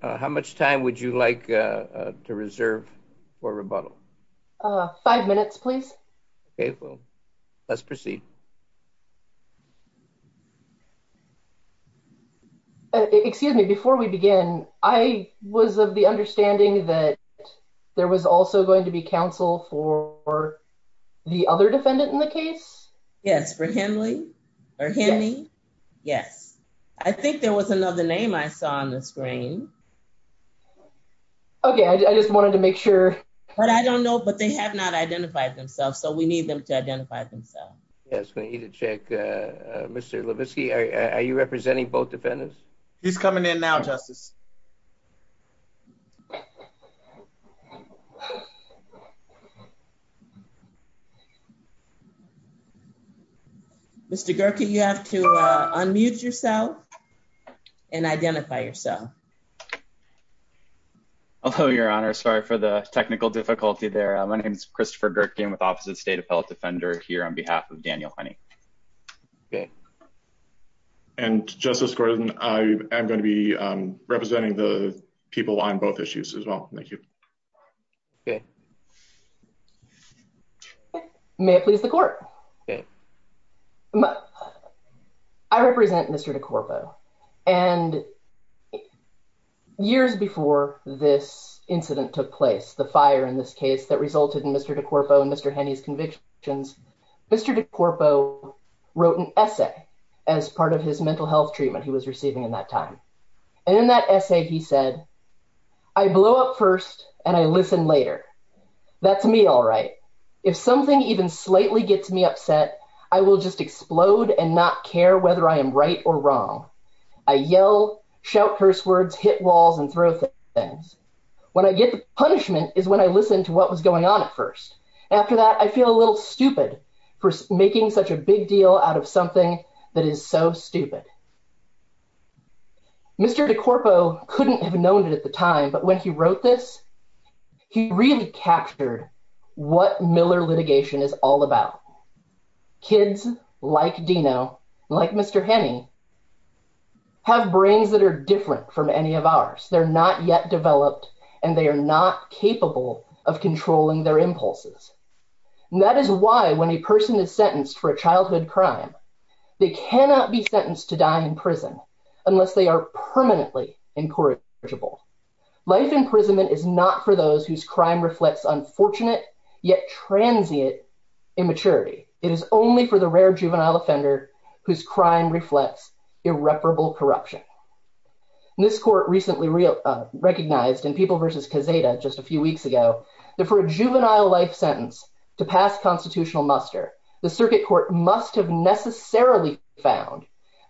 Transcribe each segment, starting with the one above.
How much time would you like to reserve for rebuttal? Five minutes, please. Okay, well, let's proceed. Excuse me, before we begin, I was of the understanding that there was also going to be counsel for the other defendant in the case? Yes, for Henley, or Henney, yes. I think there was another name I saw on the screen. Okay, I just wanted to make sure. But I don't know, but they have not identified themselves, so we need them to identify themselves. Yes, we need to check. Mr. Levitsky, are you representing both defendants? He's coming in now, Justice. Mr. Gerken, you have to unmute yourself and identify yourself. Hello, Your Honor. Sorry for the technical difficulty there. My name is Christopher Gerken with Office of the State Appellate Defender here on behalf of Daniel Henney. Okay. And Justice Gordon, I am going to be representing the people on both issues as well. Thank you. Okay. May it please the court. I represent Mr. DeCorpo, and years before this incident took place, the fire in this case that resulted in Mr. DeCorpo and Mr. Henney's convictions, Mr. DeCorpo wrote an essay as part of his mental health treatment he was receiving in that time. And in that essay, he said, I blow up first and I listen later. That's me all right. If something even slightly gets me upset, I will just explode and not care whether I am right or wrong. I yell, shout curse words, hit walls, and throw things. When I get the punishment is when I listen to what was going on at first. After that, I feel a little stupid for making such a big deal out of something that is so stupid. Mr. DeCorpo couldn't have known it at the time, but when he wrote this, he really captured what Miller litigation is all about. Kids like Dino, like Mr. Henney, have brains that are different from any of ours. They're not yet developed and they are not capable of controlling their impulses. That is why when a person is sentenced for a childhood crime, they cannot be sentenced to die in prison unless they are permanently incorrigible. Life imprisonment is not for those whose crime reflects unfortunate, yet transient immaturity. It is only for the rare juvenile offender whose crime reflects irreparable corruption. And this court recently recognized in People v. Cazeta just a few weeks ago, that for a juvenile life sentence to pass constitutional muster, the circuit court must have necessarily found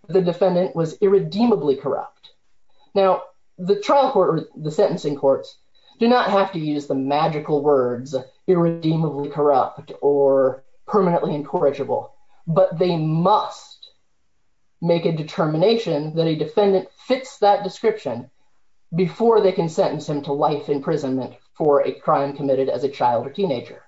the defendant was irredeemably corrupt. Now, the trial court or the sentencing courts do not have to use the magical words irredeemably corrupt or permanently incorrigible, but they must make a determination that a defendant fits that description before they can sentence him to life imprisonment for a crime committed as a child or teenager.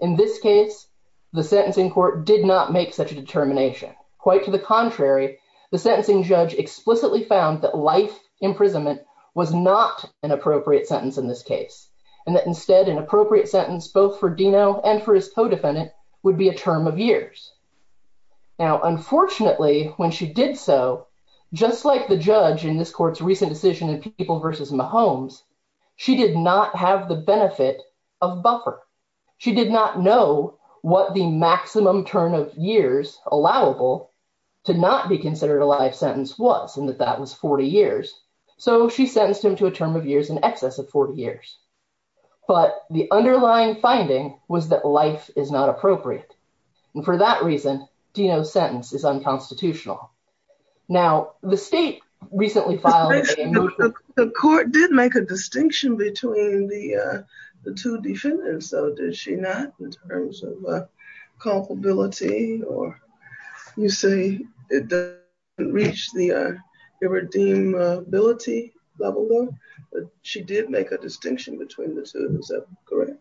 In this case, the sentencing court did not make such a determination. Quite to the contrary, the sentencing judge explicitly found that life imprisonment was not an appropriate sentence in this case, and that instead an appropriate sentence both for Dino and for his co-defendant would be a term of years. Now, unfortunately, when she did so, just like the judge in this court's recent decision in People v. Mahomes, she did not have the benefit of buffer. She did not know what the maximum turn of years allowable to not be considered a life sentence was, and that that was 40 years. So she sentenced him to a term of years in excess of 40 years. But the underlying finding was that life is not appropriate, and for that reason, Dino's sentence is unconstitutional. Now, the state recently filed... The court did make a distinction between the two defendants, though, did she not, in terms of culpability, or you say it didn't reach the irredeemability level, but she did make a distinction between the two, is that correct?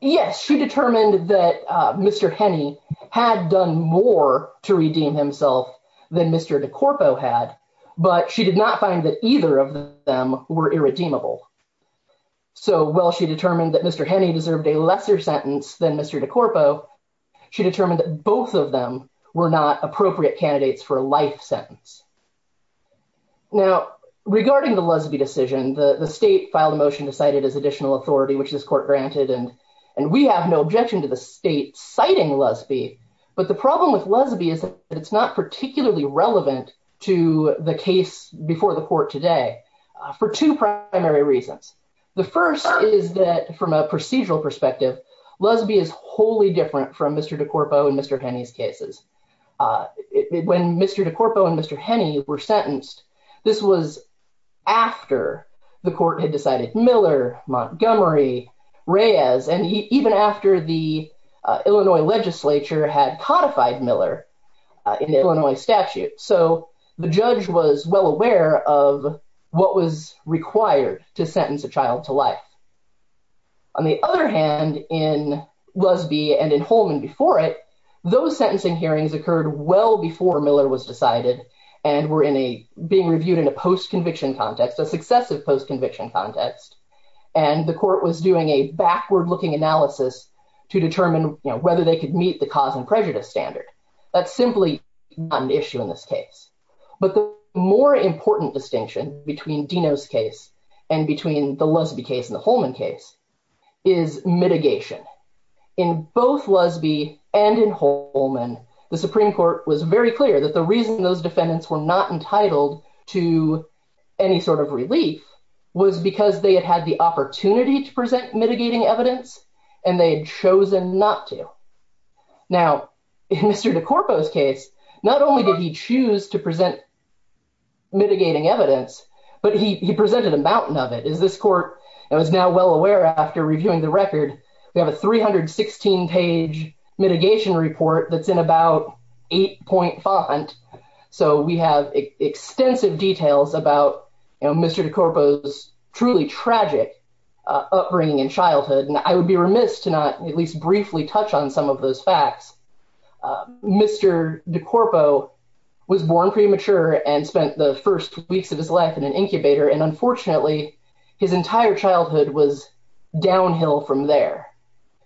Yes, she determined that Mr. Henney had done more to redeem himself than Mr. DeCorpo had, but she did not find that either of them were irredeemable. So while she determined that Mr. Henney deserved a lesser sentence than Mr. DeCorpo, she determined that both of them were not appropriate candidates for a life sentence. Now, regarding the Lesbi decision, the state filed a motion to cite it as additional authority, which this court granted, and we have no objection to the state citing Lesbi, but the problem with Lesbi is that it's not particularly relevant to the case before the court today for two primary reasons. The first is that, from a procedural perspective, Lesbi is wholly different from Mr. DeCorpo and Mr. Henney's cases. When Mr. DeCorpo and Mr. Henney were sentenced, this was after the court had decided Miller, Montgomery, Reyes, and even after the Illinois legislature had codified Miller in the Illinois statute, so the judge was well aware of what was required to sentence a child to life. On the other hand, in Lesbi and in Holman before it, those sentencing hearings occurred well before Miller was decided and were being reviewed in a post-conviction context, a successive post-conviction context, and the court was doing a backward-looking analysis to determine whether they could meet the cause and prejudice standard. That's simply not an issue in this case. But the more important distinction between Deno's case and between the Lesbi case and Holman case is mitigation. In both Lesbi and in Holman, the Supreme Court was very clear that the reason those defendants were not entitled to any sort of relief was because they had had the opportunity to present mitigating evidence, and they had chosen not to. Now, in Mr. DeCorpo's case, not only did he choose to present mitigating evidence, but he presented a mountain of it. As this court was now well aware after reviewing the record, we have a 316-page mitigation report that's in about 8-point font, so we have extensive details about Mr. DeCorpo's truly tragic upbringing and childhood, and I would be remiss to not at least briefly touch on some of those facts. Mr. DeCorpo was born premature and spent the first weeks of his life in an incubator, and his entire childhood was downhill from there.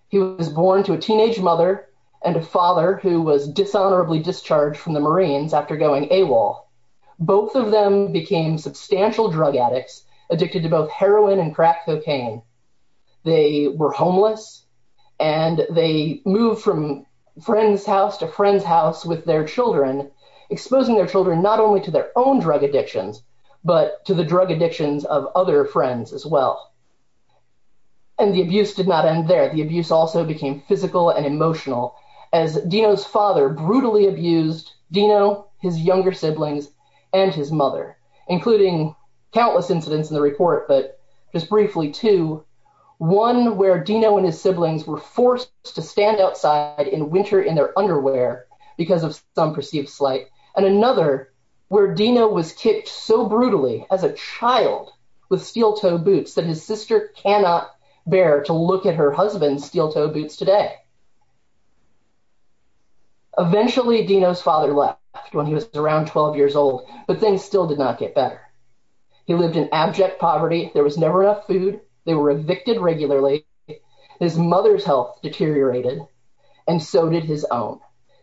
He was born to a teenage mother and a father who was dishonorably discharged from the Marines after going AWOL. Both of them became substantial drug addicts, addicted to both heroin and crack cocaine. They were homeless, and they moved from friend's house to friend's house with their children, exposing their children not only to their own as well. And the abuse did not end there. The abuse also became physical and emotional, as Dino's father brutally abused Dino, his younger siblings, and his mother, including countless incidents in the report, but just briefly two. One where Dino and his siblings were forced to stand outside in winter in their underwear because of some perceived slight, and another where Dino was kicked so that his sister cannot bear to look at her husband's steel-toed boots today. Eventually, Dino's father left when he was around 12 years old, but things still did not get better. He lived in abject poverty. There was never enough food. They were evicted regularly. His mother's health deteriorated, and so did his own.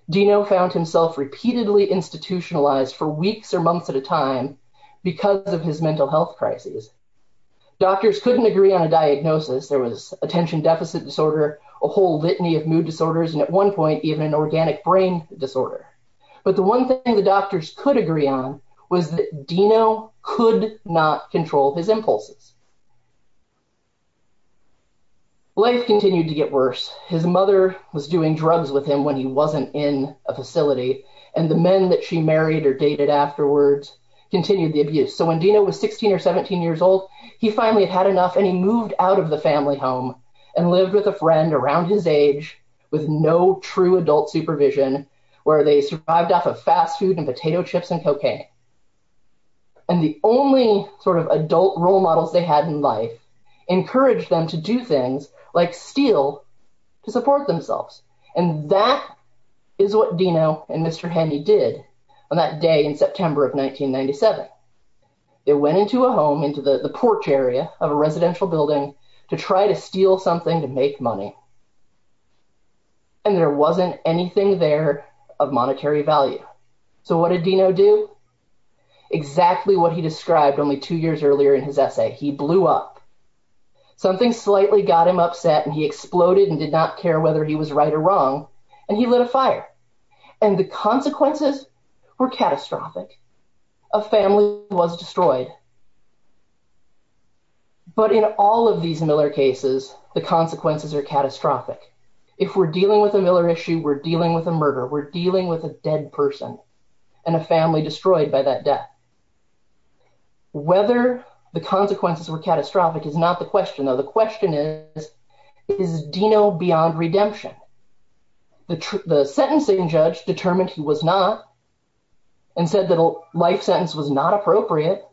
Dino found himself repeatedly institutionalized for doctors couldn't agree on a diagnosis. There was attention deficit disorder, a whole litany of mood disorders, and at one point even an organic brain disorder. But the one thing the doctors could agree on was that Dino could not control his impulses. Life continued to get worse. His mother was doing drugs with him when he wasn't in a facility, and the men that she married or dated afterwards continued the abuse. So when Dino was 16 or 17 years old, he finally had enough, and he moved out of the family home and lived with a friend around his age with no true adult supervision where they survived off of fast food and potato chips and cocaine. And the only sort of adult role models they had in life encouraged them to do things like steal to support themselves, and that is what Dino and Mr. Handy did on that day in the porch area of a residential building to try to steal something to make money. And there wasn't anything there of monetary value. So what did Dino do? Exactly what he described only two years earlier in his essay. He blew up. Something slightly got him upset, and he exploded and did not care whether he was right or wrong, and he lit a fire. And the consequences were catastrophic. A family was destroyed. But in all of these Miller cases, the consequences are catastrophic. If we're dealing with a Miller issue, we're dealing with a murder. We're dealing with a dead person and a family destroyed by that death. Whether the consequences were catastrophic is not the question, though. The question is, is Dino beyond redemption? The sentencing judge determined he was not and said that a life sentence was not appropriate.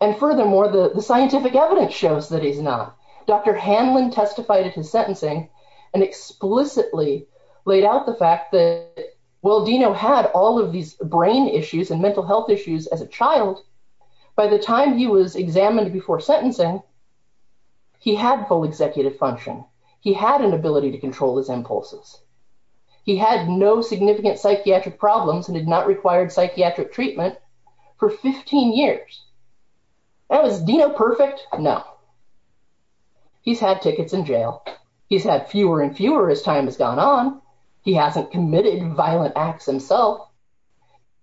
And furthermore, the scientific evidence shows that he's not. Dr. Hanlon testified at his sentencing and explicitly laid out the fact that while Dino had all of these brain issues and mental health issues as a child, by the time he was examined before sentencing, he had full executive function. He had an ability to control his impulses. He had no significant psychiatric problems and did not require psychiatric treatment for 15 years. That was Dino perfect? No. He's had tickets in jail. He's had fewer and fewer as time has gone on. He hasn't committed violent acts himself.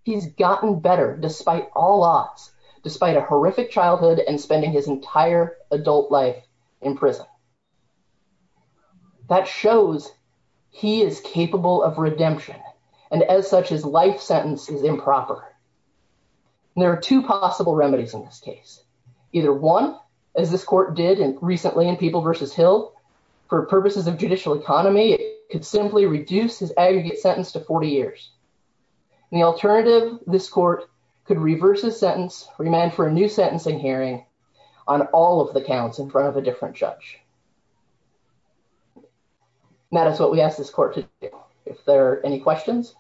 He's gotten better despite all odds, despite a adult life in prison. That shows he is capable of redemption. And as such, his life sentence is improper. There are two possible remedies in this case. Either one, as this court did recently in People v. Hill, for purposes of judicial economy, it could simply reduce his aggregate sentence to 40 years. And the alternative, this court could reverse his sentence, remand for a sentencing hearing on all of the counts in front of a different judge. That is what we ask this court to do. If there are any questions.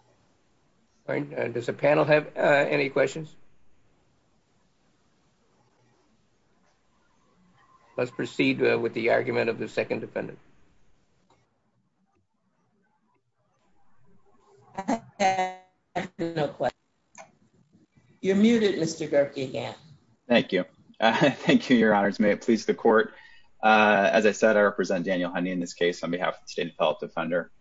Does the panel have any questions? Let's proceed with the argument of the second defendant. I have no question. You're muted, Mr. Gerkey again. Thank you. Thank you, Your Honors. May it please the court. As I said, I represent Daniel Honey in this case on behalf of the state of health defender.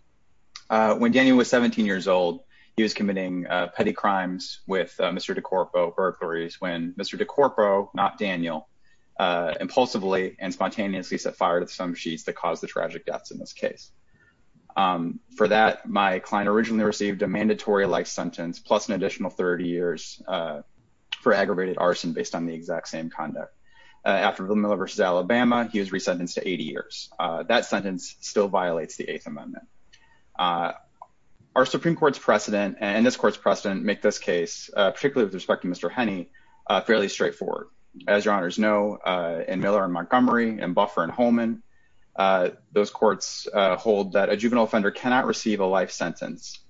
When Daniel was 17 years old, he was committing petty crimes with Mr. DeCorpo burglaries when Mr. DeCorpo, not Daniel, impulsively and spontaneously set fire to some sheets that caused the tragic deaths in this case. For that, my client originally received a mandatory life sentence, plus an additional 30 years for aggravated arson based on the exact same conduct. After Villanueva v. Alabama, he was resentenced to 80 years. That sentence still violates the Eighth Amendment. Our Supreme Court's precedent and this court's precedent make this case, particularly with respect to Mr. Honey, fairly straightforward. As Your Honors know, in Miller and Montgomery, in Buffer and Holman, those courts hold that a juvenile offender cannot receive a life sentence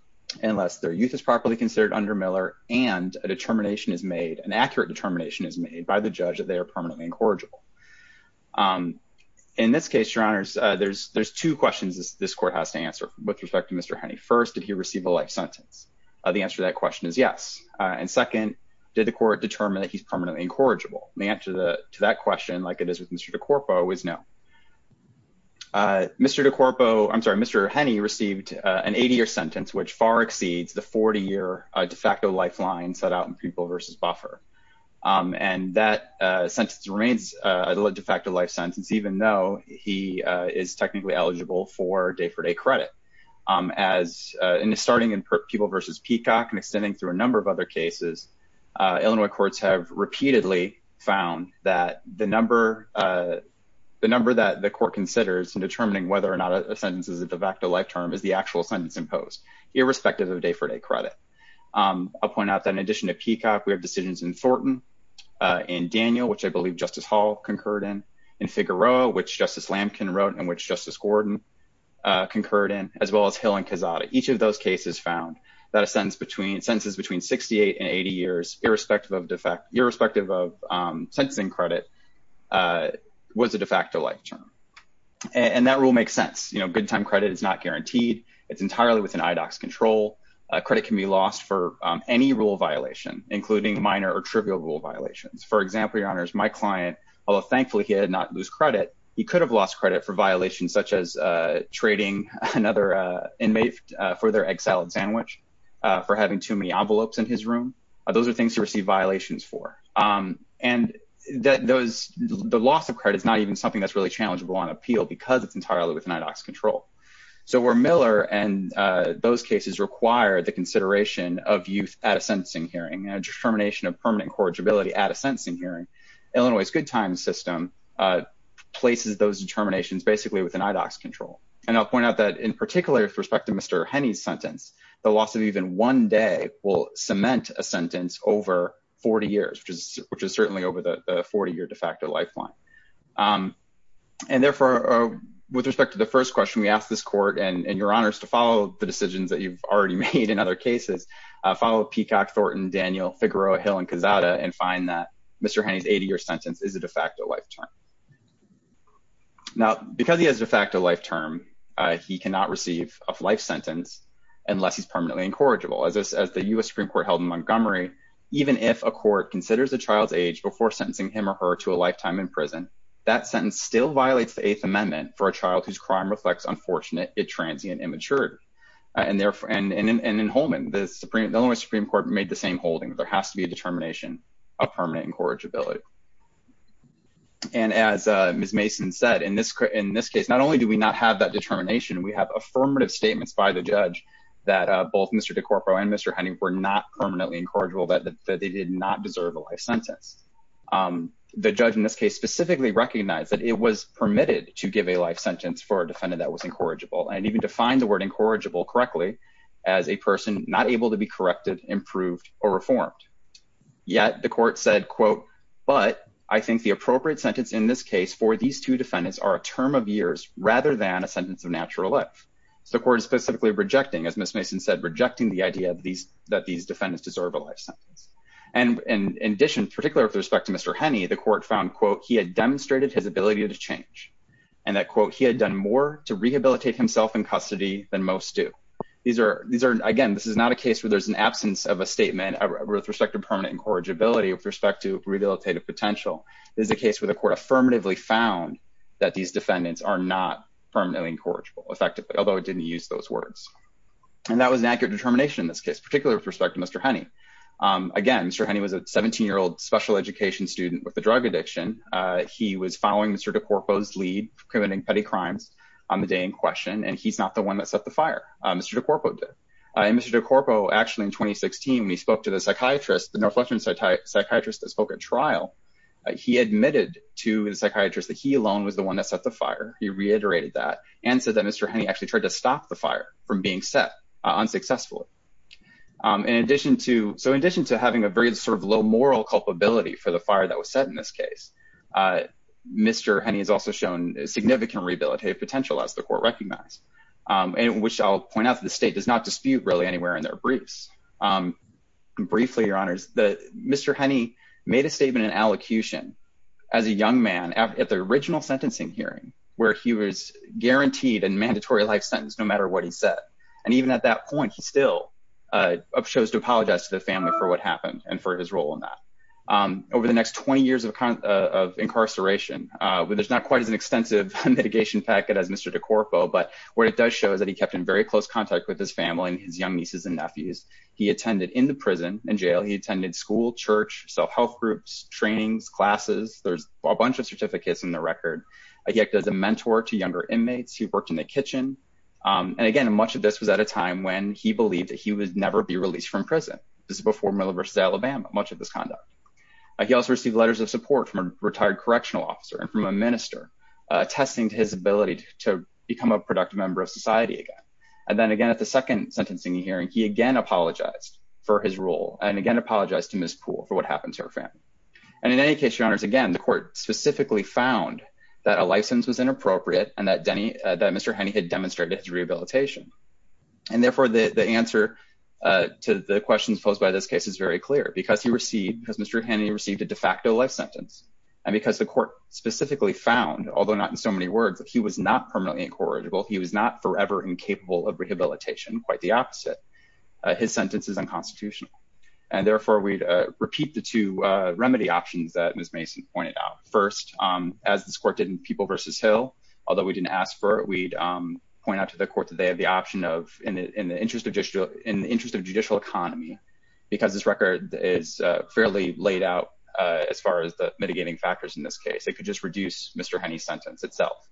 unless their youth is properly considered under Miller and a determination is made, an accurate determination is made by the judge that they are permanently incorrigible. In this case, Your Honors, there's two questions this court has to answer with respect to Mr. Honey. First, did he receive a life sentence? The answer to that question is yes. And second, did the court determine that he's permanently incorrigible? The answer to that question, like it is with Mr. DeCorpo, is no. Mr. DeCorpo, I'm sorry, Mr. Honey received an 80-year sentence, which far exceeds the 40-year de facto lifeline set out in Peeble v. Buffer. And that sentence remains a de facto life sentence, even though he is technically eligible for day-for-day credit. Starting in Peeble v. Peacock and extending through a number of other cases, Illinois courts have repeatedly found that the number that the court considers in determining whether or not a sentence is a de facto life term is the actual sentence imposed, irrespective of day-for-day credit. I'll point out that in addition to Peacock, we have decisions in Thornton, in Daniel, which I believe Justice Hall concurred in, in Figueroa, which Justice Lamkin wrote and which Justice Gordon concurred in, as well as Hill and Cazada. Each of those cases found that a sentence between, sentences between 68 and 80 years, irrespective of de facto, irrespective of sentencing credit, was a de facto life term. And that rule makes sense. You know, good time credit is not guaranteed. It's entirely within IDOC's control. Credit can be lost for any rule violation, including minor or trivial rule violations. For example, Your Honors, my client, although thankfully he did not lose credit, he could have lost credit for violations such as trading another inmate for their egg salad sandwich, for having too many envelopes in his room. Those are things to receive violations for. And that those, the loss of credit is not even something that's really challengeable on appeal because it's entirely within IDOC's control. So where Miller and those cases require the consideration of youth at a sentencing hearing, a determination of places those determinations basically within IDOC's control. And I'll point out that in particular with respect to Mr. Henney's sentence, the loss of even one day will cement a sentence over 40 years, which is certainly over the 40 year de facto lifeline. And therefore, with respect to the first question, we asked this court and Your Honors to follow the decisions that you've already made in other cases, follow Peacock, Thornton, Daniel, Figueroa, Hill, and find that Mr. Henney's 80 year sentence is a de facto life term. Now, because he has a de facto life term, he cannot receive a life sentence unless he's permanently incorrigible. As the U.S. Supreme Court held in Montgomery, even if a court considers a child's age before sentencing him or her to a lifetime in prison, that sentence still violates the Eighth Amendment for a child whose crime reflects unfortunate yet transient immaturity. And therefore, and in Holman, the Supreme Court made the same holding, there has to be a determination of permanent incorrigibility. And as Ms. Mason said, in this case, not only do we not have that determination, we have affirmative statements by the judge that both Mr. DeCorpo and Mr. Henney were not permanently incorrigible, that they did not deserve a life sentence. The judge in this case specifically recognized that it was permitted to give a life sentence for a defendant that and even defined the word incorrigible correctly as a person not able to be corrected, improved, or reformed. Yet the court said, quote, but I think the appropriate sentence in this case for these two defendants are a term of years rather than a sentence of natural life. So the court is specifically rejecting, as Ms. Mason said, rejecting the idea that these defendants deserve a life sentence. And in addition, particularly with respect to Mr. Henney, the court found, quote, he had demonstrated his ability to change and that, quote, he had done more to rehabilitate himself in custody than most do. Again, this is not a case where there's an absence of a statement with respect to permanent incorrigibility with respect to rehabilitative potential. This is a case where the court affirmatively found that these defendants are not permanently incorrigible effectively, although it didn't use those words. And that was an accurate determination in this case, particularly with respect to Mr. Henney. Again, Mr. Henney was a 17-year-old special education student with a drug addiction. He was following Mr. DeCorpo's lead, committing petty crimes on the day in question, and he's not the one that set the fire. Mr. DeCorpo did. And Mr. DeCorpo, actually in 2016, when he spoke to the psychiatrist, the Northwestern psychiatrist that spoke at trial, he admitted to the psychiatrist that he alone was the one that set the fire. He reiterated that and said that Mr. Henney actually tried to stop the fire from being set unsuccessfully. So in addition to having a very low moral culpability for the fire that was set in this case, Mr. Henney has also shown significant rehabilitative potential, as the court recognized, which I'll point out that the state does not dispute really anywhere in their briefs. Briefly, Your Honors, Mr. Henney made a statement in allocution as a young man at the original sentencing hearing, where he was guaranteed a mandatory life sentence no matter what he said. And even at that point, he still chose to apologize to the family for what happened and for his role in that. Over the next 20 years of incarceration, there's not quite as an extensive mitigation packet as Mr. DeCorpo, but what it does show is that he kept in very close contact with his family and his young nieces and nephews. He attended in the prison and jail. He attended school, church, self-health groups, trainings, classes. There's a bunch of certificates in the record. He acted as a mentor to younger inmates. He worked in the kitchen. And again, much of this was at a time when he believed that he would never be released from prison. This is before Miller v. Alabama, much of this conduct. He also received letters of support from a retired correctional officer and from a minister, attesting to his ability to become a productive member of society again. And then again, at the second sentencing hearing, he again apologized for his role and again apologized to Ms. Poole for what happened to her family. And in any case, Your Honors, again, the court specifically found that a license was inappropriate and that Mr. Henney had demonstrated his rehabilitation. And therefore, the answer to the questions posed by this case is very clear. Because he received, because Mr. Henney received a de facto life sentence and because the court specifically found, although not in so many words, that he was not permanently incorrigible. He was not forever incapable of rehabilitation. Quite the opposite. His sentence is unconstitutional. And therefore, we'd repeat the two remedy options that Ms. Mason pointed out. First, as this court did in People v. Hill, although we didn't ask for it, we'd point out to the court that they had the option of, in the interest of judicial economy, because this record is fairly laid out as far as the mitigating factors in this case. It could just reduce Mr. Henney's sentence itself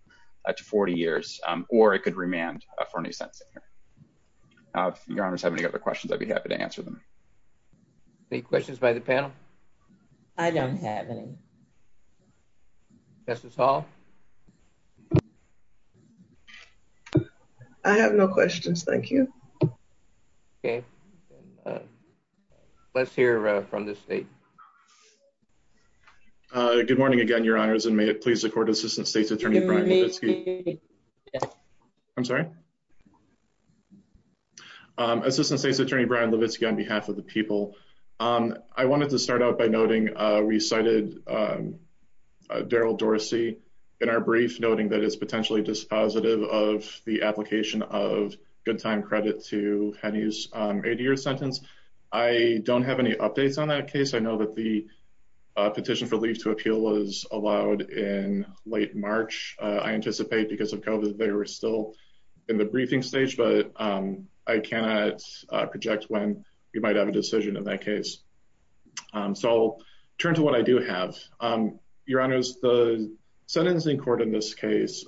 to 40 years or it could remand for a new sentencing hearing. If Your Honors have any other questions, I'd be happy to answer them. Any questions by the panel? I don't have any. Mrs. Hall? I have no questions. Thank you. Okay. Let's hear from the state. Good morning again, Your Honors. And may it please the court, Assistant State's Attorney Brian Levitsky. I'm sorry? Assistant State's Attorney Brian Levitsky on behalf of the people. I wanted to start out by noting we cited Daryl Dorsey in our brief, noting that it's potentially dispositive of the application of good time credit to Henney's 80-year sentence. I don't have any updates on that case. I know that the petition for leave to appeal was allowed in late March. I anticipate because of COVID they were still in the briefing stage, but I cannot project when we might have a decision in that case. So I'll turn to what I do have. Your Honors, the sentencing court in this case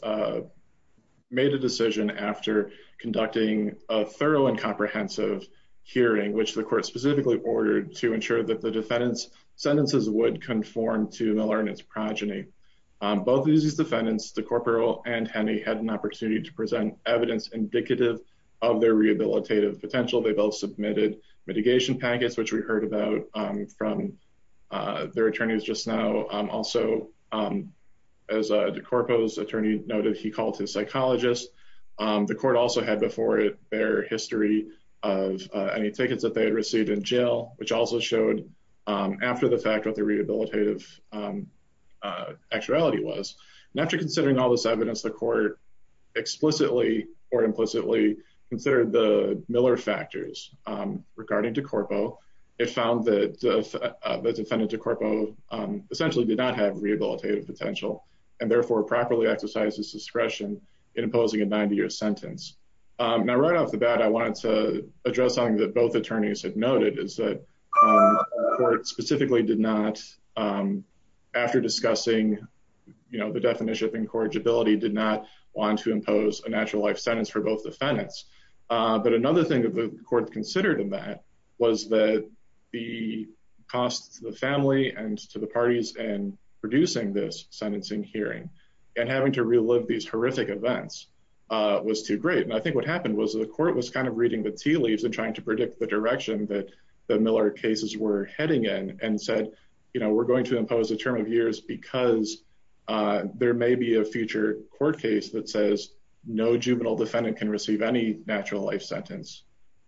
made a decision after conducting a thorough and comprehensive hearing, which the court specifically ordered to ensure that the defendant's sentences would conform to Miller and his progeny. Both of these defendants, the corporal and Henney, had an opportunity to present evidence indicative of their rehabilitative potential. They both submitted mitigation packets, which we heard about from their attorneys just now. Also, as DeCorpo's attorney noted, he called his psychologist. The court also had before it their history of any tickets that they had received in jail, which also showed after the fact what the rehabilitative actuality was. After considering all this evidence, the court explicitly or implicitly considered the Miller factors regarding DeCorpo. It found that the defendant DeCorpo essentially did not have rehabilitative potential and therefore properly exercised his discretion in imposing a 90-year sentence. Now, right off the bat, I wanted to address something that both attorneys had noted, is that the court specifically did not, after discussing the definition of incorrigibility, did not want to impose a natural life sentence for both defendants. But another thing that the court considered in that was that the cost to the family and to the parties in producing this sentencing hearing and having to relive these horrific events was too great. I think what happened was the court was reading the tea leaves and trying to predict the direction that the Miller cases were heading in and said, we're going to impose a term of years because there may be a future court case that says no juvenile defendant can receive any natural life sentence.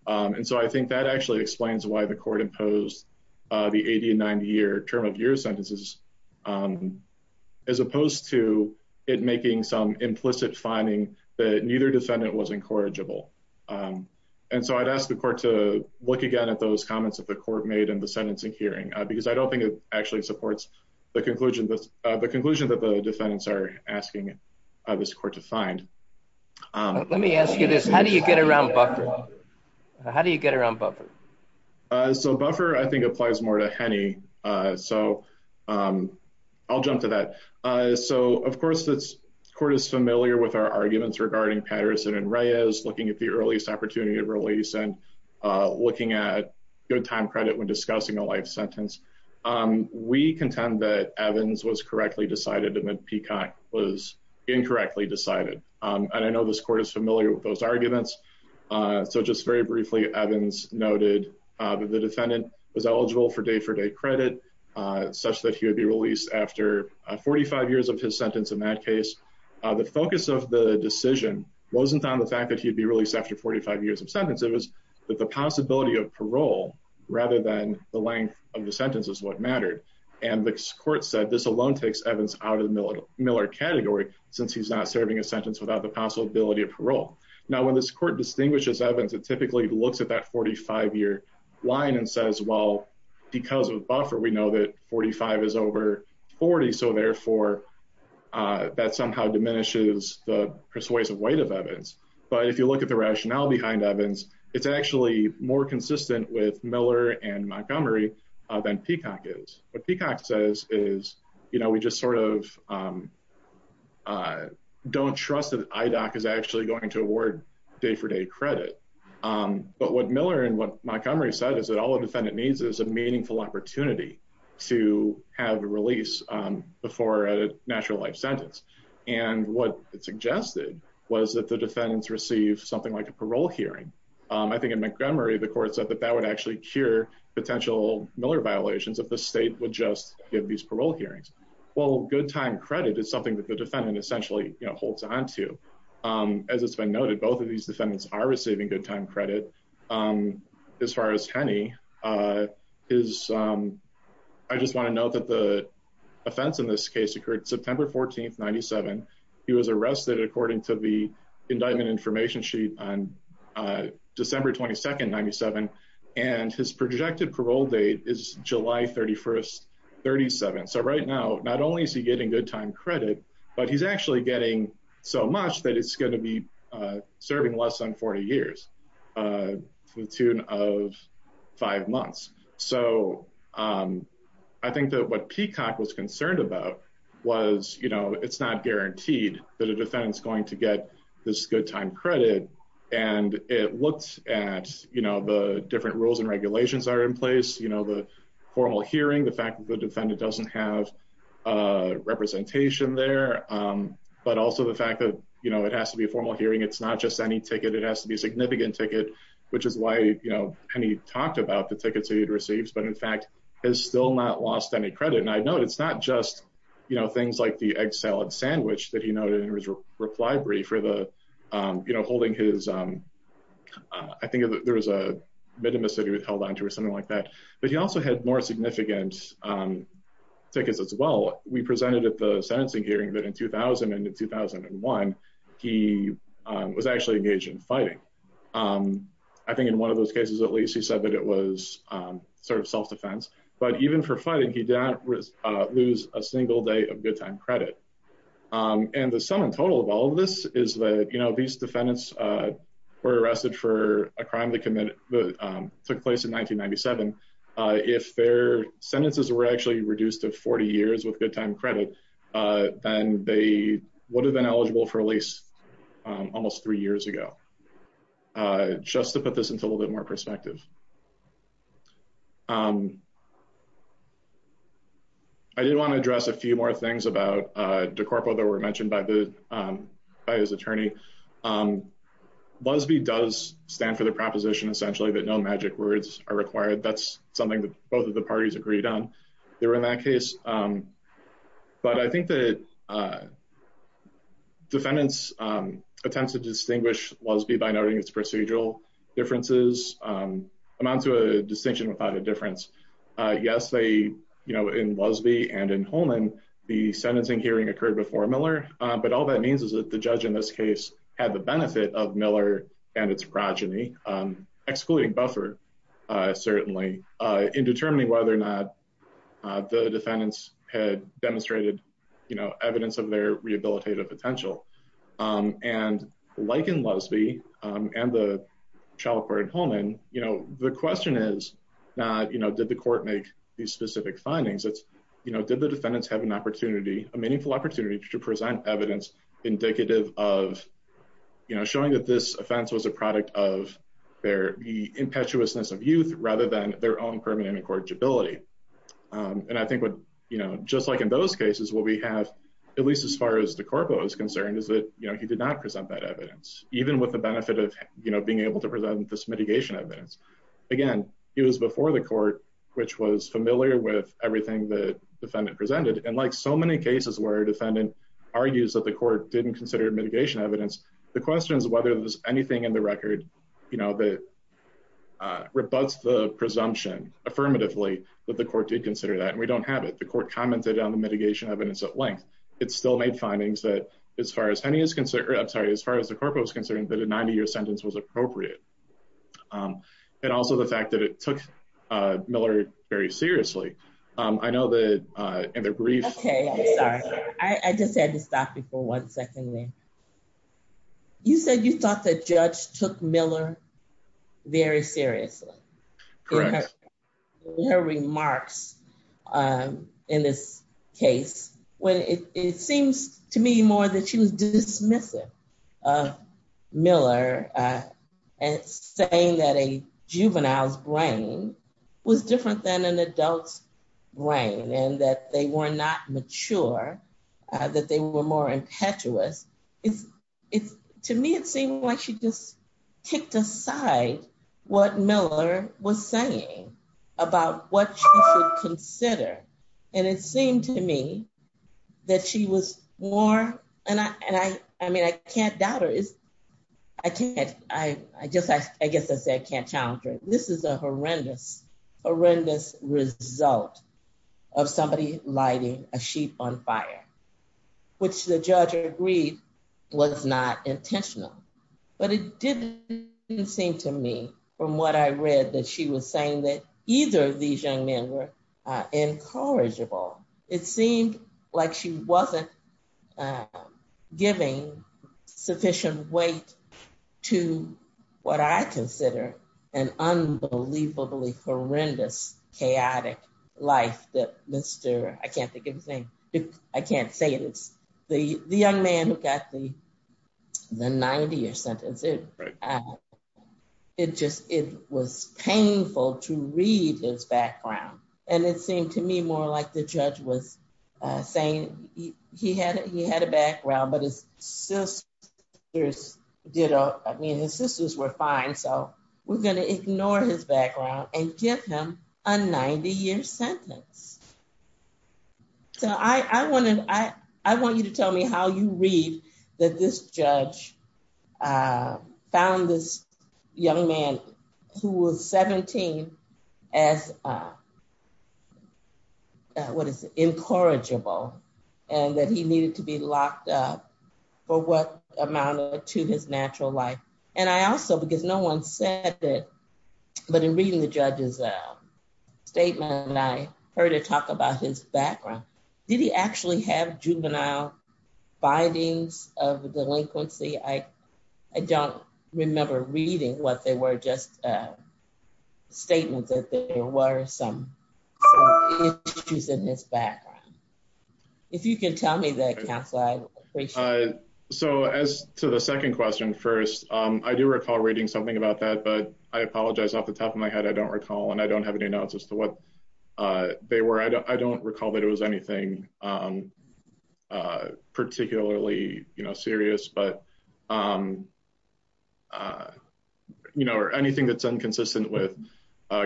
I think that actually explains why the court imposed the 80 and 90-year term of year sentences as opposed to it making some implicit finding that neither defendant was incorrigible. I'd ask the court to look again at those comments that the court made in the sentencing hearing because I don't think it actually supports the conclusion that the defendants are asking this court to find. Let me ask you this. How do you get around buffer? How do you get around buffer? Buffer, I think, applies more to Henny. I'll jump to that. Of course, the court is familiar with our arguments regarding Patterson and Reyes, looking at the earliest opportunity of release and looking at good time credit when discussing a life sentence. We contend that Evans was correctly decided and that Peacock was incorrectly decided. I know this court is familiar with those arguments. Just very briefly, Evans noted that the defendant was eligible for day-for-day credit such that he would be released after 45 years of his sentence in that case. The focus of the decision wasn't on the fact that he'd be released after 45 years of sentence. It was the possibility of parole rather than the length of the sentence is what mattered. The court said this alone takes Evans out of the Miller category since he's not serving a sentence without the possibility of parole. Now, when this court distinguishes Evans, it typically looks at that 45-year line and says, well, because of the buffer, we know that 45 is over 40. Therefore, that somehow diminishes the persuasive weight of Evans. If you look at the case, it's actually more consistent with Miller and Montgomery than Peacock is. What Peacock says is, we just don't trust that IDOC is actually going to award day-for-day credit. What Miller and what Montgomery said is that all a defendant needs is a meaningful opportunity to have a release before a natural life sentence. What it suggested was that the defendants receive something like a parole hearing. I think in Montgomery, the court said that that would actually cure potential Miller violations if the state would just give these parole hearings. Well, good time credit is something that the defendant essentially holds onto. As it's been noted, both of these defendants are receiving good time credit. As far as Hennie, I just want to note that the offense in this case occurred September 14th, 97. He was arrested according to the indictment information sheet on December 22nd, 97. His projected parole date is July 31st, 37. Right now, not only is he getting good time credit, but he's actually getting so much that it's going to be serving less than 40 years to the tune of five months. I think that what Peacock was concerned about was it's not guaranteed that a defendant is going to get this good time credit. It looks at the different rules and regulations that are in place, the formal hearing, the fact that the defendant doesn't have a representation there, but also the fact that it has to be a formal hearing. It's not just any ticket. It has to be a significant ticket, which is why Hennie talked about the tickets that he had received, but in fact, has still not lost any credit. I know it's not just things like the egg salad sandwich that he was holding. I think there was a bit of a city that held onto or something like that, but he also had more significant tickets as well. We presented at the sentencing hearing that in 2000 and in 2001, he was actually engaged in fighting. I think in one of those cases, at least he said that it was self-defense, but even for fighting, he did not lose a single day good time credit. The sum and total of all of this is that these defendants were arrested for a crime that took place in 1997. If their sentences were actually reduced to 40 years with good time credit, then they would have been eligible for a lease almost three years ago, just to put this into a little bit more perspective. I did want to address a few more things about DeCorpo that were mentioned by his attorney. Lusby does stand for the proposition essentially that no magic words are required. That's something that both of the parties agreed on. They were in that case, but I think that defendants attempt to distinguish Lusby by noting its procedural differences, amount to a distinction without a difference. Yes, in Lusby and in Holman, the sentencing hearing occurred before Miller, but all that means is that the judge in this case had the benefit of Miller and its progeny, excluding Buffer certainly, in determining whether or not the defendants had demonstrated evidence of their rehabilitative potential. Like in Lusby and the question is not, did the court make these specific findings? It's, did the defendants have an opportunity, a meaningful opportunity to present evidence indicative of showing that this offense was a product of their impetuousness of youth rather than their own permanent incorrigibility. I think just like in those cases, what we have, at least as far as DeCorpo is concerned, is that he did not present that evidence, even with the benefit of being able to present this mitigation evidence. Again, he was before the court, which was familiar with everything that defendant presented. And like so many cases where a defendant argues that the court didn't consider mitigation evidence, the question is whether there's anything in the record, you know, that rebuts the presumption affirmatively that the court did consider that. And we don't have it. The court commented on the mitigation evidence at length. It's still made findings that as far as Henney is concerned, I'm sorry, as far as DeCorpo was concerned, that a 90-year sentence was appropriate. And also the fact that it took Miller very seriously. I know that in the brief... Okay, sorry. I just had to stop you for one second there. You said you thought the judge took Miller very seriously. Correct. In her remarks in this case, when it seems to me more that she was dismissive of Miller and saying that a juvenile's brain was different than an adult's brain and that they were not mature, that they were more impetuous. To me, it seemed like she just kicked aside what Miller was saying about what she should consider. And it seemed to me that she was more... And I mean, I can't doubt her. I guess I said I can't challenge her. This is a horrendous, horrendous result of somebody lighting a sheep on fire, which the judge agreed was not intentional. But it didn't seem to me from what I read that she was saying that either of these young men were incorrigible. It seemed like she wasn't giving sufficient weight to what I consider an unbelievably horrendous, chaotic life that Mr... I can't think of his name. I can't say it. It's the young man who got the 90-year sentence. It was painful to read his background. And it seemed to me more like the judge was saying he had a background, but his sisters did... I mean, his sisters were fine, so we're going to ignore his background and give him a 90-year sentence. So I wanted... I want you to tell me how you read that this judge found this young man who was 17 as, what is it, incorrigible, and that he needed to be locked up for what amount to his natural life. And I also, because no one said that, but in reading the judge's statement, I heard her talk about his background. Did he actually have juvenile findings of delinquency? I don't remember reading what they were, just statements that there were some issues in his background. If you can tell me the... So as to the second question first, I do recall reading something about that, but I apologize. Off the top of my head, I don't recall, and I don't have any notes as to what they were. I don't recall that it was anything particularly serious, but anything that's inconsistent with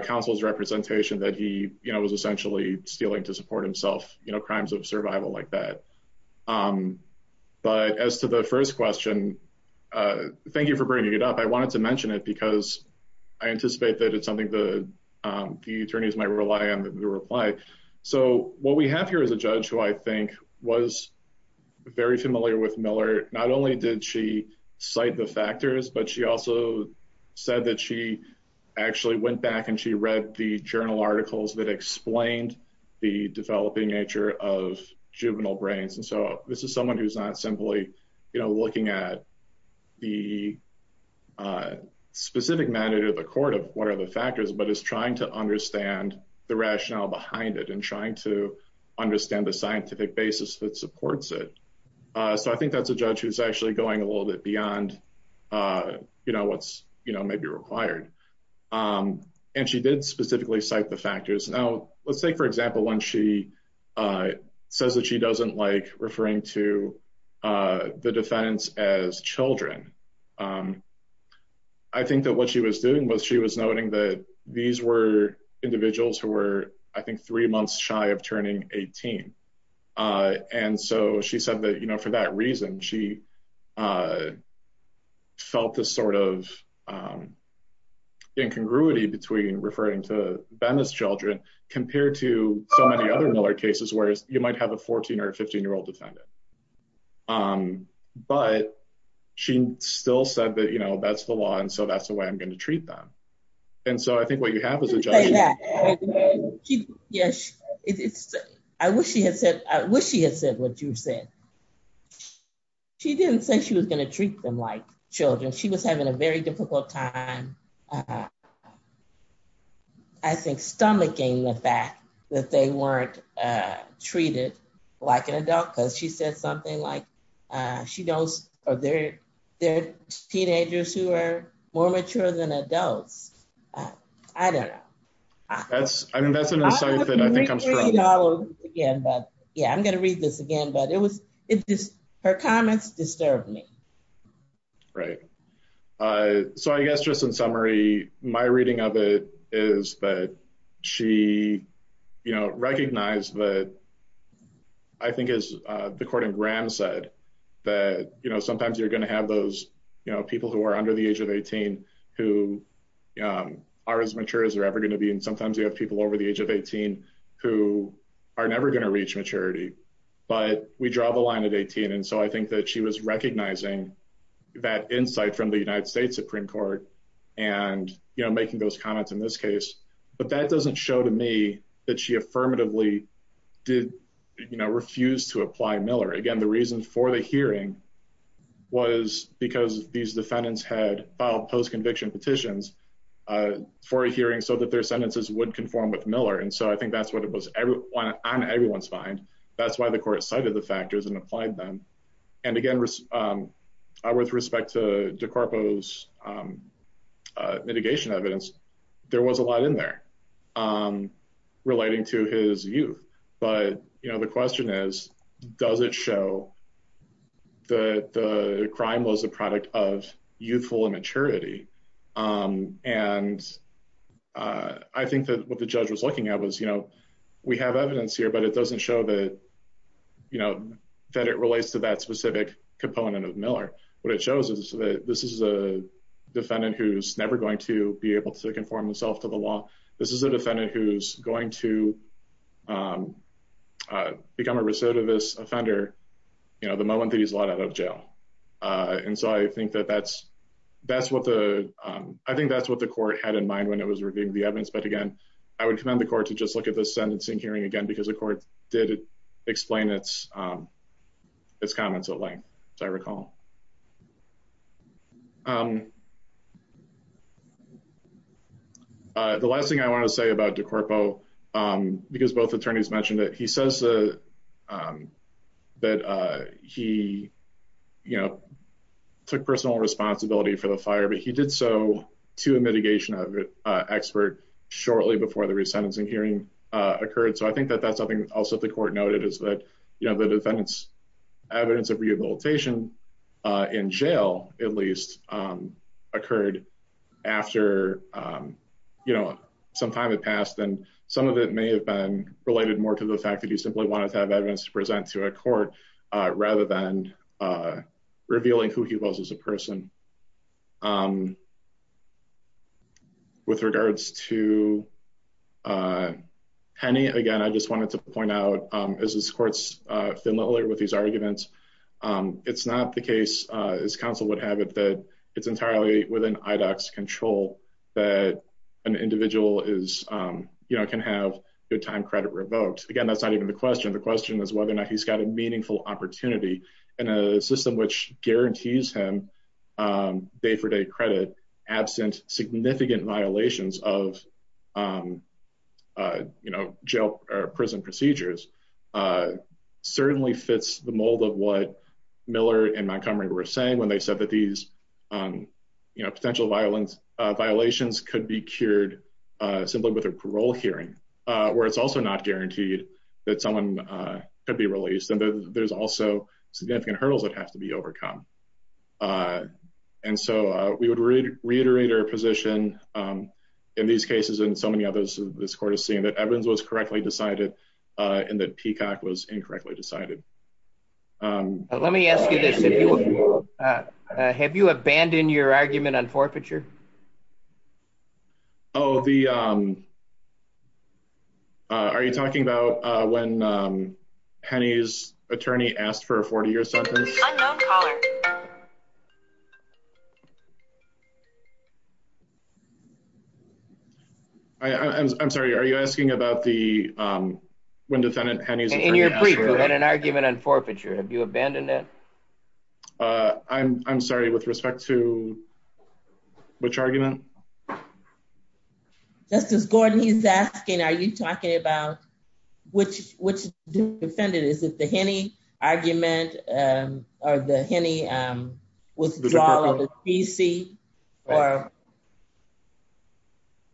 counsel's representation that he was essentially stealing to support himself, you know, crimes of survival like that. But as to the first question, thank you for bringing it up. I wanted to mention it because I anticipate that it's something the attorneys might rely on to reply. So what we have here is a judge who I think was very familiar with Miller. Not only did she cite the factors, but she also said that she actually went back and she read the journal articles that explained the developing nature of juvenile brains. And so this is someone who's not simply, you know, looking at the specific matter to the court of what are the factors, but is trying to understand the rationale behind it and trying to understand the scientific basis that supports it. So I think that's a judge who's actually going a little bit beyond, you know, what's, you know, maybe required. And she did specifically cite the factors. Now, let's take, for example, when she says that she doesn't like referring to the defendants as children. I think that what she was doing was she was noting that these were individuals who were, I think, three months shy of turning 18. And so she said that, you know, for that reason, she felt this sort of incongruity between referring to them as children compared to so many other Miller cases, whereas you might have a 14 or 15 year old defendant. But she still said that, you know, that's the law. And so that's the way I'm going to treat them. And so I think what you have is a judge. Yes. I wish she had said what you said. She didn't say she was going to treat them like children. She was having a very difficult time, I think, stomaching the fact that they weren't treated like an adult because she said something like, she knows they're teenagers who are more mature than adults. I don't know. That's, I mean, that's another side of it. I think I'm strong. Again, but yeah, I'm going to read this again. But it was it just her comments disturbed me. Right. So I guess just in summary, my reading of it is that she, you know, recognized that I think as the court in Graham said that, you know, sometimes you're going to have those, you know, people who are under the age of 18 who are as mature as they're ever going to be. And sometimes you have people over the age of 18 who are never going to reach maturity, but we draw the line at 18. And so I think that she was recognizing that insight from the United States Supreme Court and, you know, making those comments in this case. But that doesn't show to that she affirmatively did, you know, refused to apply Miller. Again, the reason for the hearing was because these defendants had filed post conviction petitions for a hearing so that their sentences would conform with Miller. And so I think that's what it was on everyone's mind. That's why the court cited the factors and applied them. And again, with respect to DeCarpo's mitigation evidence, there was a lot in there relating to his youth. But, you know, the question is, does it show that the crime was a product of youthful immaturity? And I think that what the judge was looking at was, you know, we have evidence here, but it doesn't show that, you know, that it relates to that specific component of Miller. What it shows is that this is a defendant who's never going to be able to conform himself to the law. This is a defendant who's going to become a recidivist offender, you know, the moment that he's locked out of jail. And so I think that's what the court had in mind when it was reviewing the evidence. But again, I would commend the court to just look at this sentencing hearing because the court did explain its comments at length, as I recall. The last thing I want to say about DeCarpo, because both attorneys mentioned it, he says that he, you know, took personal responsibility for the fire, but he did so to a mitigation expert shortly before the resentencing hearing occurred. So I think that that's something also that the court noted is that, you know, the defendant's evidence of rehabilitation in jail, at least, occurred after, you know, some time had passed. And some of it may have been related more to the fact that he simply wanted to have evidence to present to a court rather than revealing who he was as a person. With regards to Penny, again, I just wanted to point out, as this court's familiar with these arguments, it's not the case, as counsel would have it, that it's entirely within IDOC's control that an individual is, you know, can have their time credit revoked. Again, that's not even the question. The question is whether or not he's got a meaningful opportunity in a system which guarantees him day-for-day credit, absent significant violations of, you know, jail or prison procedures, certainly fits the mold of what Miller and Montgomery were saying when they said that these, you know, potential violations could be cured simply with a parole hearing, where it's also not guaranteed that someone could be released, and there's also significant hurdles that have to be overcome. And so we would reiterate our position in these cases and so many others this court has seen that Evans was correctly decided and that Peacock was incorrectly decided. Let me ask you this. Have you abandoned your argument on forfeiture? Oh, the, are you talking about when Hennie's attorney asked for a 40-year sentence? Unknown caller. I'm sorry, are you asking about the, when defendant Hennie's attorney asked for a 40-year sentence? In your brief, you had an argument on forfeiture. Have you abandoned that? Uh, I'm, I'm sorry, with respect to which argument? Justice Gordon, he's asking, are you talking about which, which defendant? Is it the Hennie argument or the Hennie withdrawal of the PC?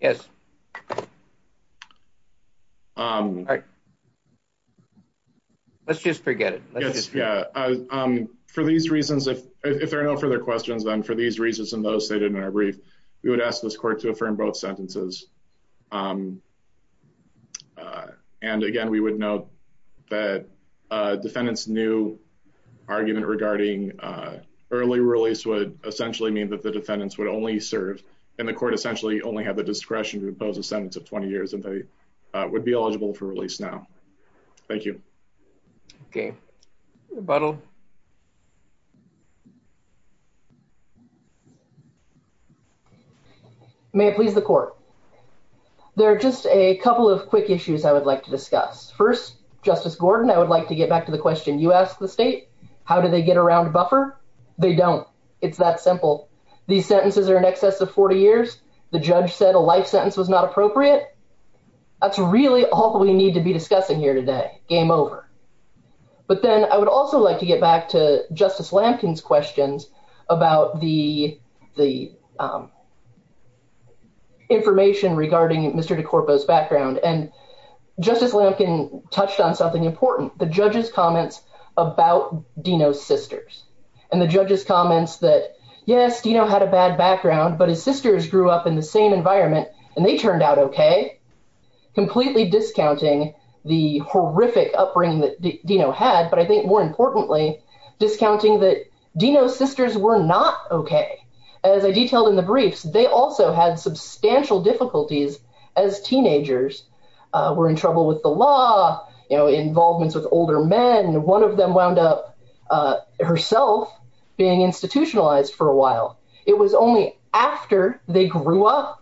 Yes. Let's just forget it. Yeah. For these reasons, if there are no further questions, then for these reasons, and those stated in our brief, we would ask this court to affirm both sentences. And again, we would note that defendants' new argument regarding early release would essentially mean that the defendants would only serve, and the court essentially only have the discretion to impose a sentence of 20 years, and they would be eligible for release now. Thank you. Okay, rebuttal. May it please the court. There are just a couple of quick issues I would like to discuss. First, Justice Gordon, I would like to get back to the question you asked the state, how do they get around a buffer? They don't. It's that simple. These sentences are in excess of 40 years. The judge said a life sentence was not appropriate. That's really all we need to discuss here today. Game over. But then I would also like to get back to Justice Lampkin's questions about the information regarding Mr. DeCorpo's background, and Justice Lampkin touched on something important, the judge's comments about Dino's sisters, and the judge's comments that, yes, Dino had a bad background, but his sisters grew up in the same environment, and they turned out okay, completely discounting the horrific upbringing that Dino had, but I think more importantly, discounting that Dino's sisters were not okay. As I detailed in the briefs, they also had substantial difficulties as teenagers, were in trouble with the law, you know, involvements with older men. One of them wound up herself being institutionalized for a while. It was only after they grew up,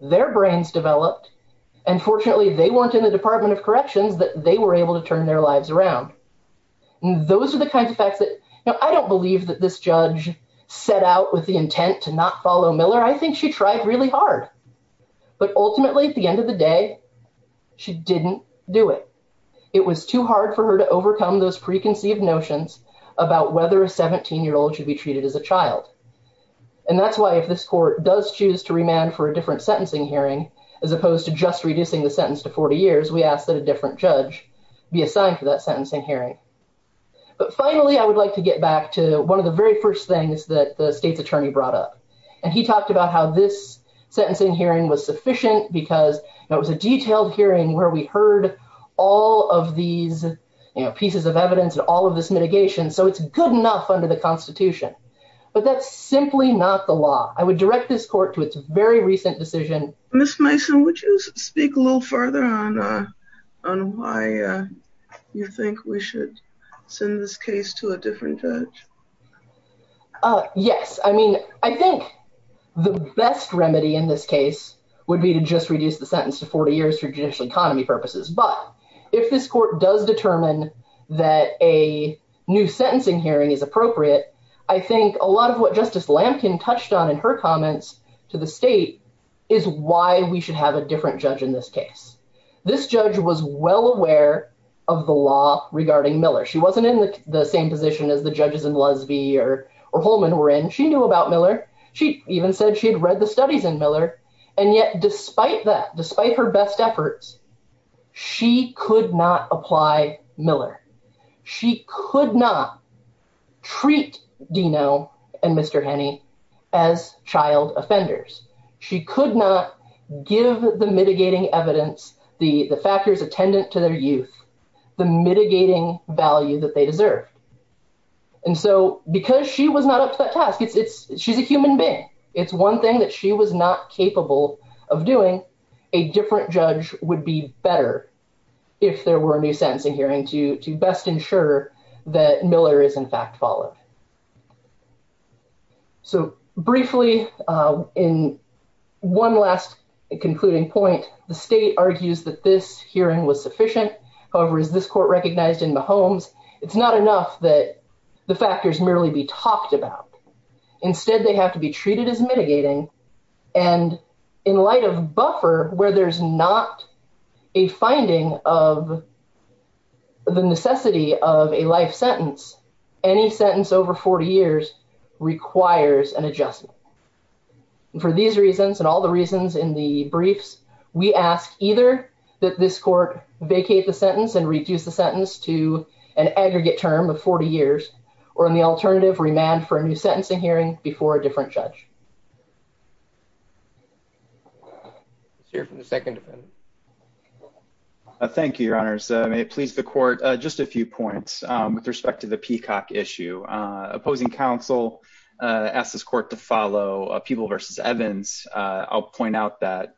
their brains developed, and fortunately, they weren't in the Department of Corrections that they were able to turn their lives around. And those are the kinds of facts that, you know, I don't believe that this judge set out with the intent to not follow Miller. I think she tried really hard. But ultimately, at the end of the day, she didn't do it. It was too hard for her to overcome those preconceived notions about whether a 17-year-old should be treated as a child. And that's why if this court does choose to remand for a different sentencing hearing, as opposed to just reducing the sentence to 40 years, we ask that a different judge be assigned to that sentencing hearing. But finally, I would like to get back to one of the very first things that the state's attorney brought up. And he talked about how this sentencing hearing was sufficient because it was a detailed hearing where we heard all of these, you know, but that's simply not the law. I would direct this court to its very recent decision. Miss Mason, would you speak a little further on why you think we should send this case to a different judge? Yes. I mean, I think the best remedy in this case would be to just reduce the sentence to 40 years for judicial economy purposes. But if this court does determine that a new a lot of what Justice Lamkin touched on in her comments to the state is why we should have a different judge in this case. This judge was well aware of the law regarding Miller. She wasn't in the same position as the judges in Lusby or Holman were in. She knew about Miller. She even said she had read the studies in Miller. And yet despite that, despite her best efforts, she could not apply Miller. She could not treat Dino and Mr. Henney as child offenders. She could not give the mitigating evidence, the factors attendant to their youth, the mitigating value that they deserve. And so because she was not up to that task, it's she's a human being. It's one thing that she was not capable of doing. A different judge would be better if there were new sentencing hearing to best ensure that Miller is in fact followed. So briefly, in one last concluding point, the state argues that this hearing was sufficient. However, is this court recognized in the homes? It's not enough that the factors merely be talked about. Instead, they have to be treated as mitigating. And in light of buffer where there's not a finding of the necessity of a life sentence, any sentence over 40 years requires an adjustment. And for these reasons and all the reasons in the briefs, we ask either that this court vacate the sentence and reduce the sentence to an aggregate term of 40 years or in the alternative remand for a new sentencing hearing before a different judge. Let's hear from the second defendant. Thank you, your honors. May it please the court. Just a few points with respect to the peacock issue. Opposing counsel asked this court to follow people versus Evans. I'll point out that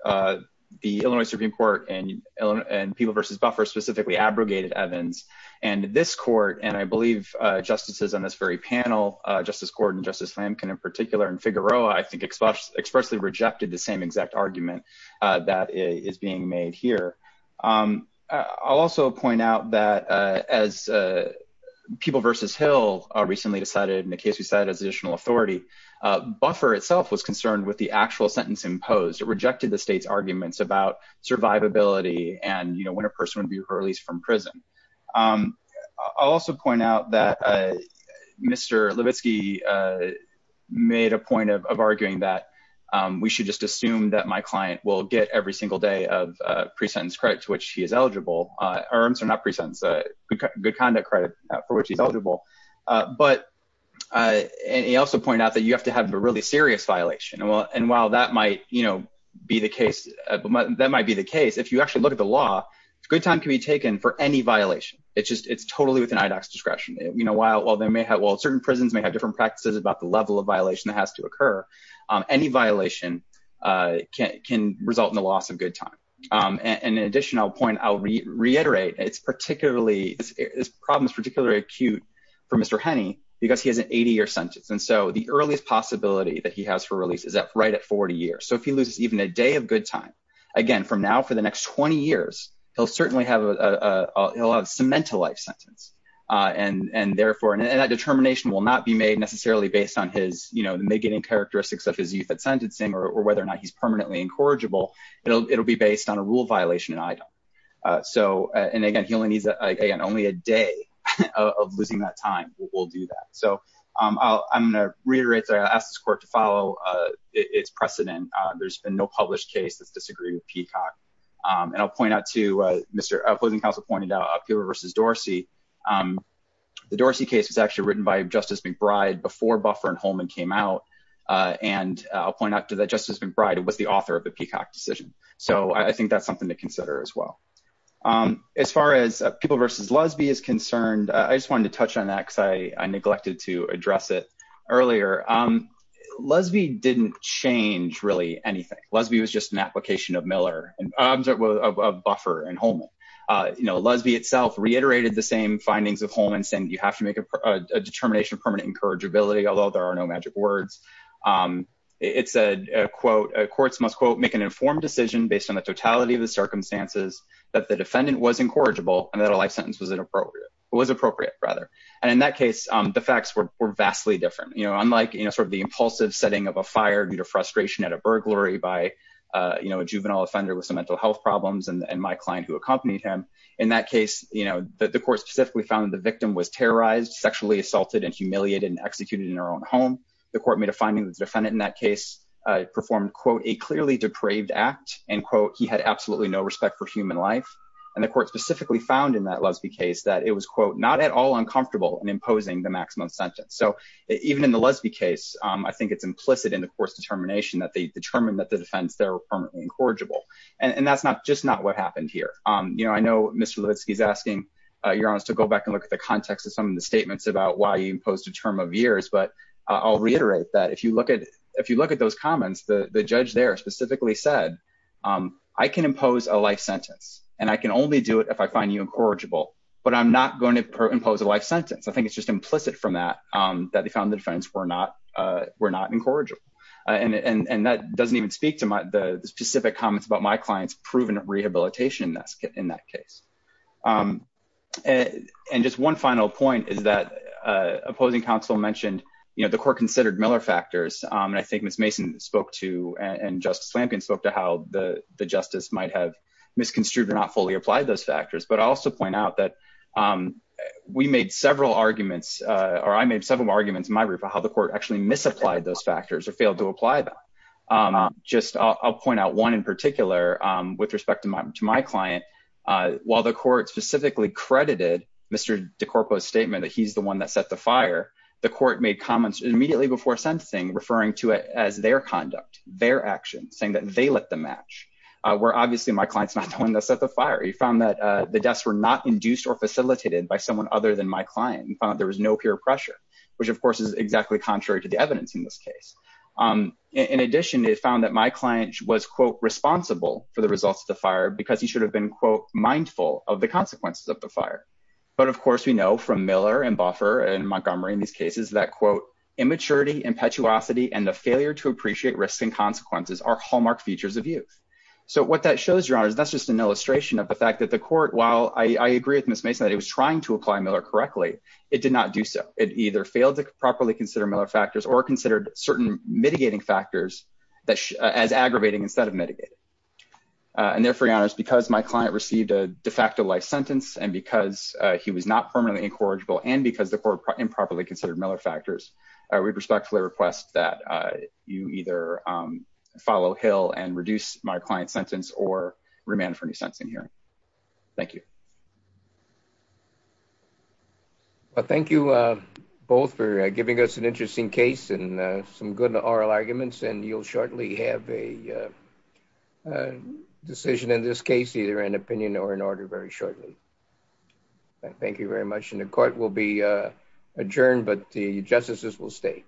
the Illinois Supreme Court and and people versus buffer specifically abrogated Evans and this court. And I believe justices on this very panel, Justice Gordon, Justice Lampkin in particular, and Figueroa, I think, expressly rejected the same exact argument that is being made here. I'll also point out that as people versus Hill recently decided, in the case we cited as additional authority, buffer itself was concerned with the actual sentence imposed. It rejected the state's arguments about survivability and when a person would be released from prison. I'll also point out that Mr. Levitsky made a point of will get every single day of pre-sentence credit to which he is eligible. Good conduct credit for which he's eligible. But he also pointed out that you have to have a really serious violation. And while that might be the case, that might be the case, if you actually look at the law, it's a good time to be taken for any violation. It's totally within IDOC's discretion. Certain prisons may have different practices about the level of violation that has to occur. Any violation can result in the loss of good time. And in addition, I'll reiterate, this problem is particularly acute for Mr. Henney because he has an 80-year sentence. And so, the earliest possibility that he has for release is right at 40 years. So, if he loses even a day of good time, again, from now for the next 20 years, he'll certainly have a cemented life and therefore, and that determination will not be made necessarily based on his, you know, getting characteristics of his youth at sentencing or whether or not he's permanently incorrigible. It'll be based on a rule violation in IDOC. So, and again, he only needs, again, only a day of losing that time will do that. So, I'm going to reiterate, I'll ask this court to follow its precedent. There's been no published case that's disagreed with Peacock. And I'll point out too, Mr. Policing Counsel pointed out Peeble v. Dorsey. The Dorsey case was actually written by Justice McBride before Buffer and Holman came out. And I'll point out to that, Justice McBride was the author of the Peacock decision. So, I think that's something to consider as well. As far as Peeble v. Lesby is concerned, I just wanted to touch on that because I neglected to address it earlier. Lesby didn't change really anything. Lesby was just an application of Miller, of Buffer and Holman. You know, Lesby itself reiterated the same findings of Holman saying you have to make a determination of permanent incorrigibility, although there are no magic words. It said, quote, courts must, quote, make an informed decision based on the totality of the circumstances that the defendant was incorrigible and that a life sentence was appropriate. And in that case, the facts were vastly different. You know, unlike, sort of, the impulsive setting of a fire due to frustration at a burglary by, you know, a juvenile offender with some mental health problems and my client who accompanied him. In that case, you know, the court specifically found the victim was terrorized, sexually assaulted, and humiliated and executed in her own home. The court made a finding that the defendant in that case performed, quote, a clearly depraved act and, quote, he had absolutely no respect for human life. And the court specifically found in that Lesby case that it was, quote, not at all uncomfortable in imposing the maximum sentence. So even in the Lesby case, I think it's implicit in the court's determination that they determined that the defense there were permanently incorrigible. And that's not, just not what happened here. You know, I know Mr. Levitsky is asking your honors to go back and look at the context of some of the statements about why you imposed a term of years, but I'll reiterate that if you look at, if you look at those comments, the judge there specifically said, I can impose a life sentence and I can only do it if I find you incorrigible, but I'm not going to impose a life sentence. I think it's just implicit from that, that they found the defense were not incorrigible. And that doesn't even speak to the specific comments about my client's proven rehabilitation in that case. And just one final point is that opposing counsel mentioned, you know, the court considered Miller factors. And I think Ms. Mason spoke to, and Justice Lamkin spoke to how the justice might have misconstrued or not fully applied those factors. But I also point out that we made several arguments or I made several arguments in my report, how the court actually misapplied those factors or failed to apply them. Just I'll point out one in particular with respect to my, to my client, while the court specifically credited Mr. DeCorpo's statement that he's the one that set the fire, the court made comments immediately before sentencing, referring to it as their conduct, their actions saying that they let the match where obviously my client's not the one that set the fire. He found that the deaths were not induced or facilitated by someone other than my client. He found that there was no peer pressure, which of course is exactly contrary to the evidence in this case. In addition, it found that my client was quote responsible for the results of the fire because he should have been quote mindful of the consequences of the fire. But of course, we know from Miller and Buffer and Montgomery in these cases that quote immaturity, impetuosity, and the failure to appreciate risks and consequences are hallmark features of youth. So what that shows your honors, that's just an illustration of the fact that the court, while I agree with Ms. Mason, that he was trying to apply Miller correctly, it did not do so. It either failed to properly consider Miller factors or considered certain mitigating factors that as aggravating instead of mitigating. And therefore your honors, because my client received a de facto life sentence and because he was not permanently incorrigible and because the court improperly considered Miller factors, we respectfully request that you either follow Hill and reduce my client's sentence or remand for new sentencing hearing. Thank you. Thank you both for giving us an interesting case and some good oral arguments and you'll shortly have a decision in this case, either an opinion or an order very shortly. Thank you very much. And the court will be adjourned, but the justices will stay.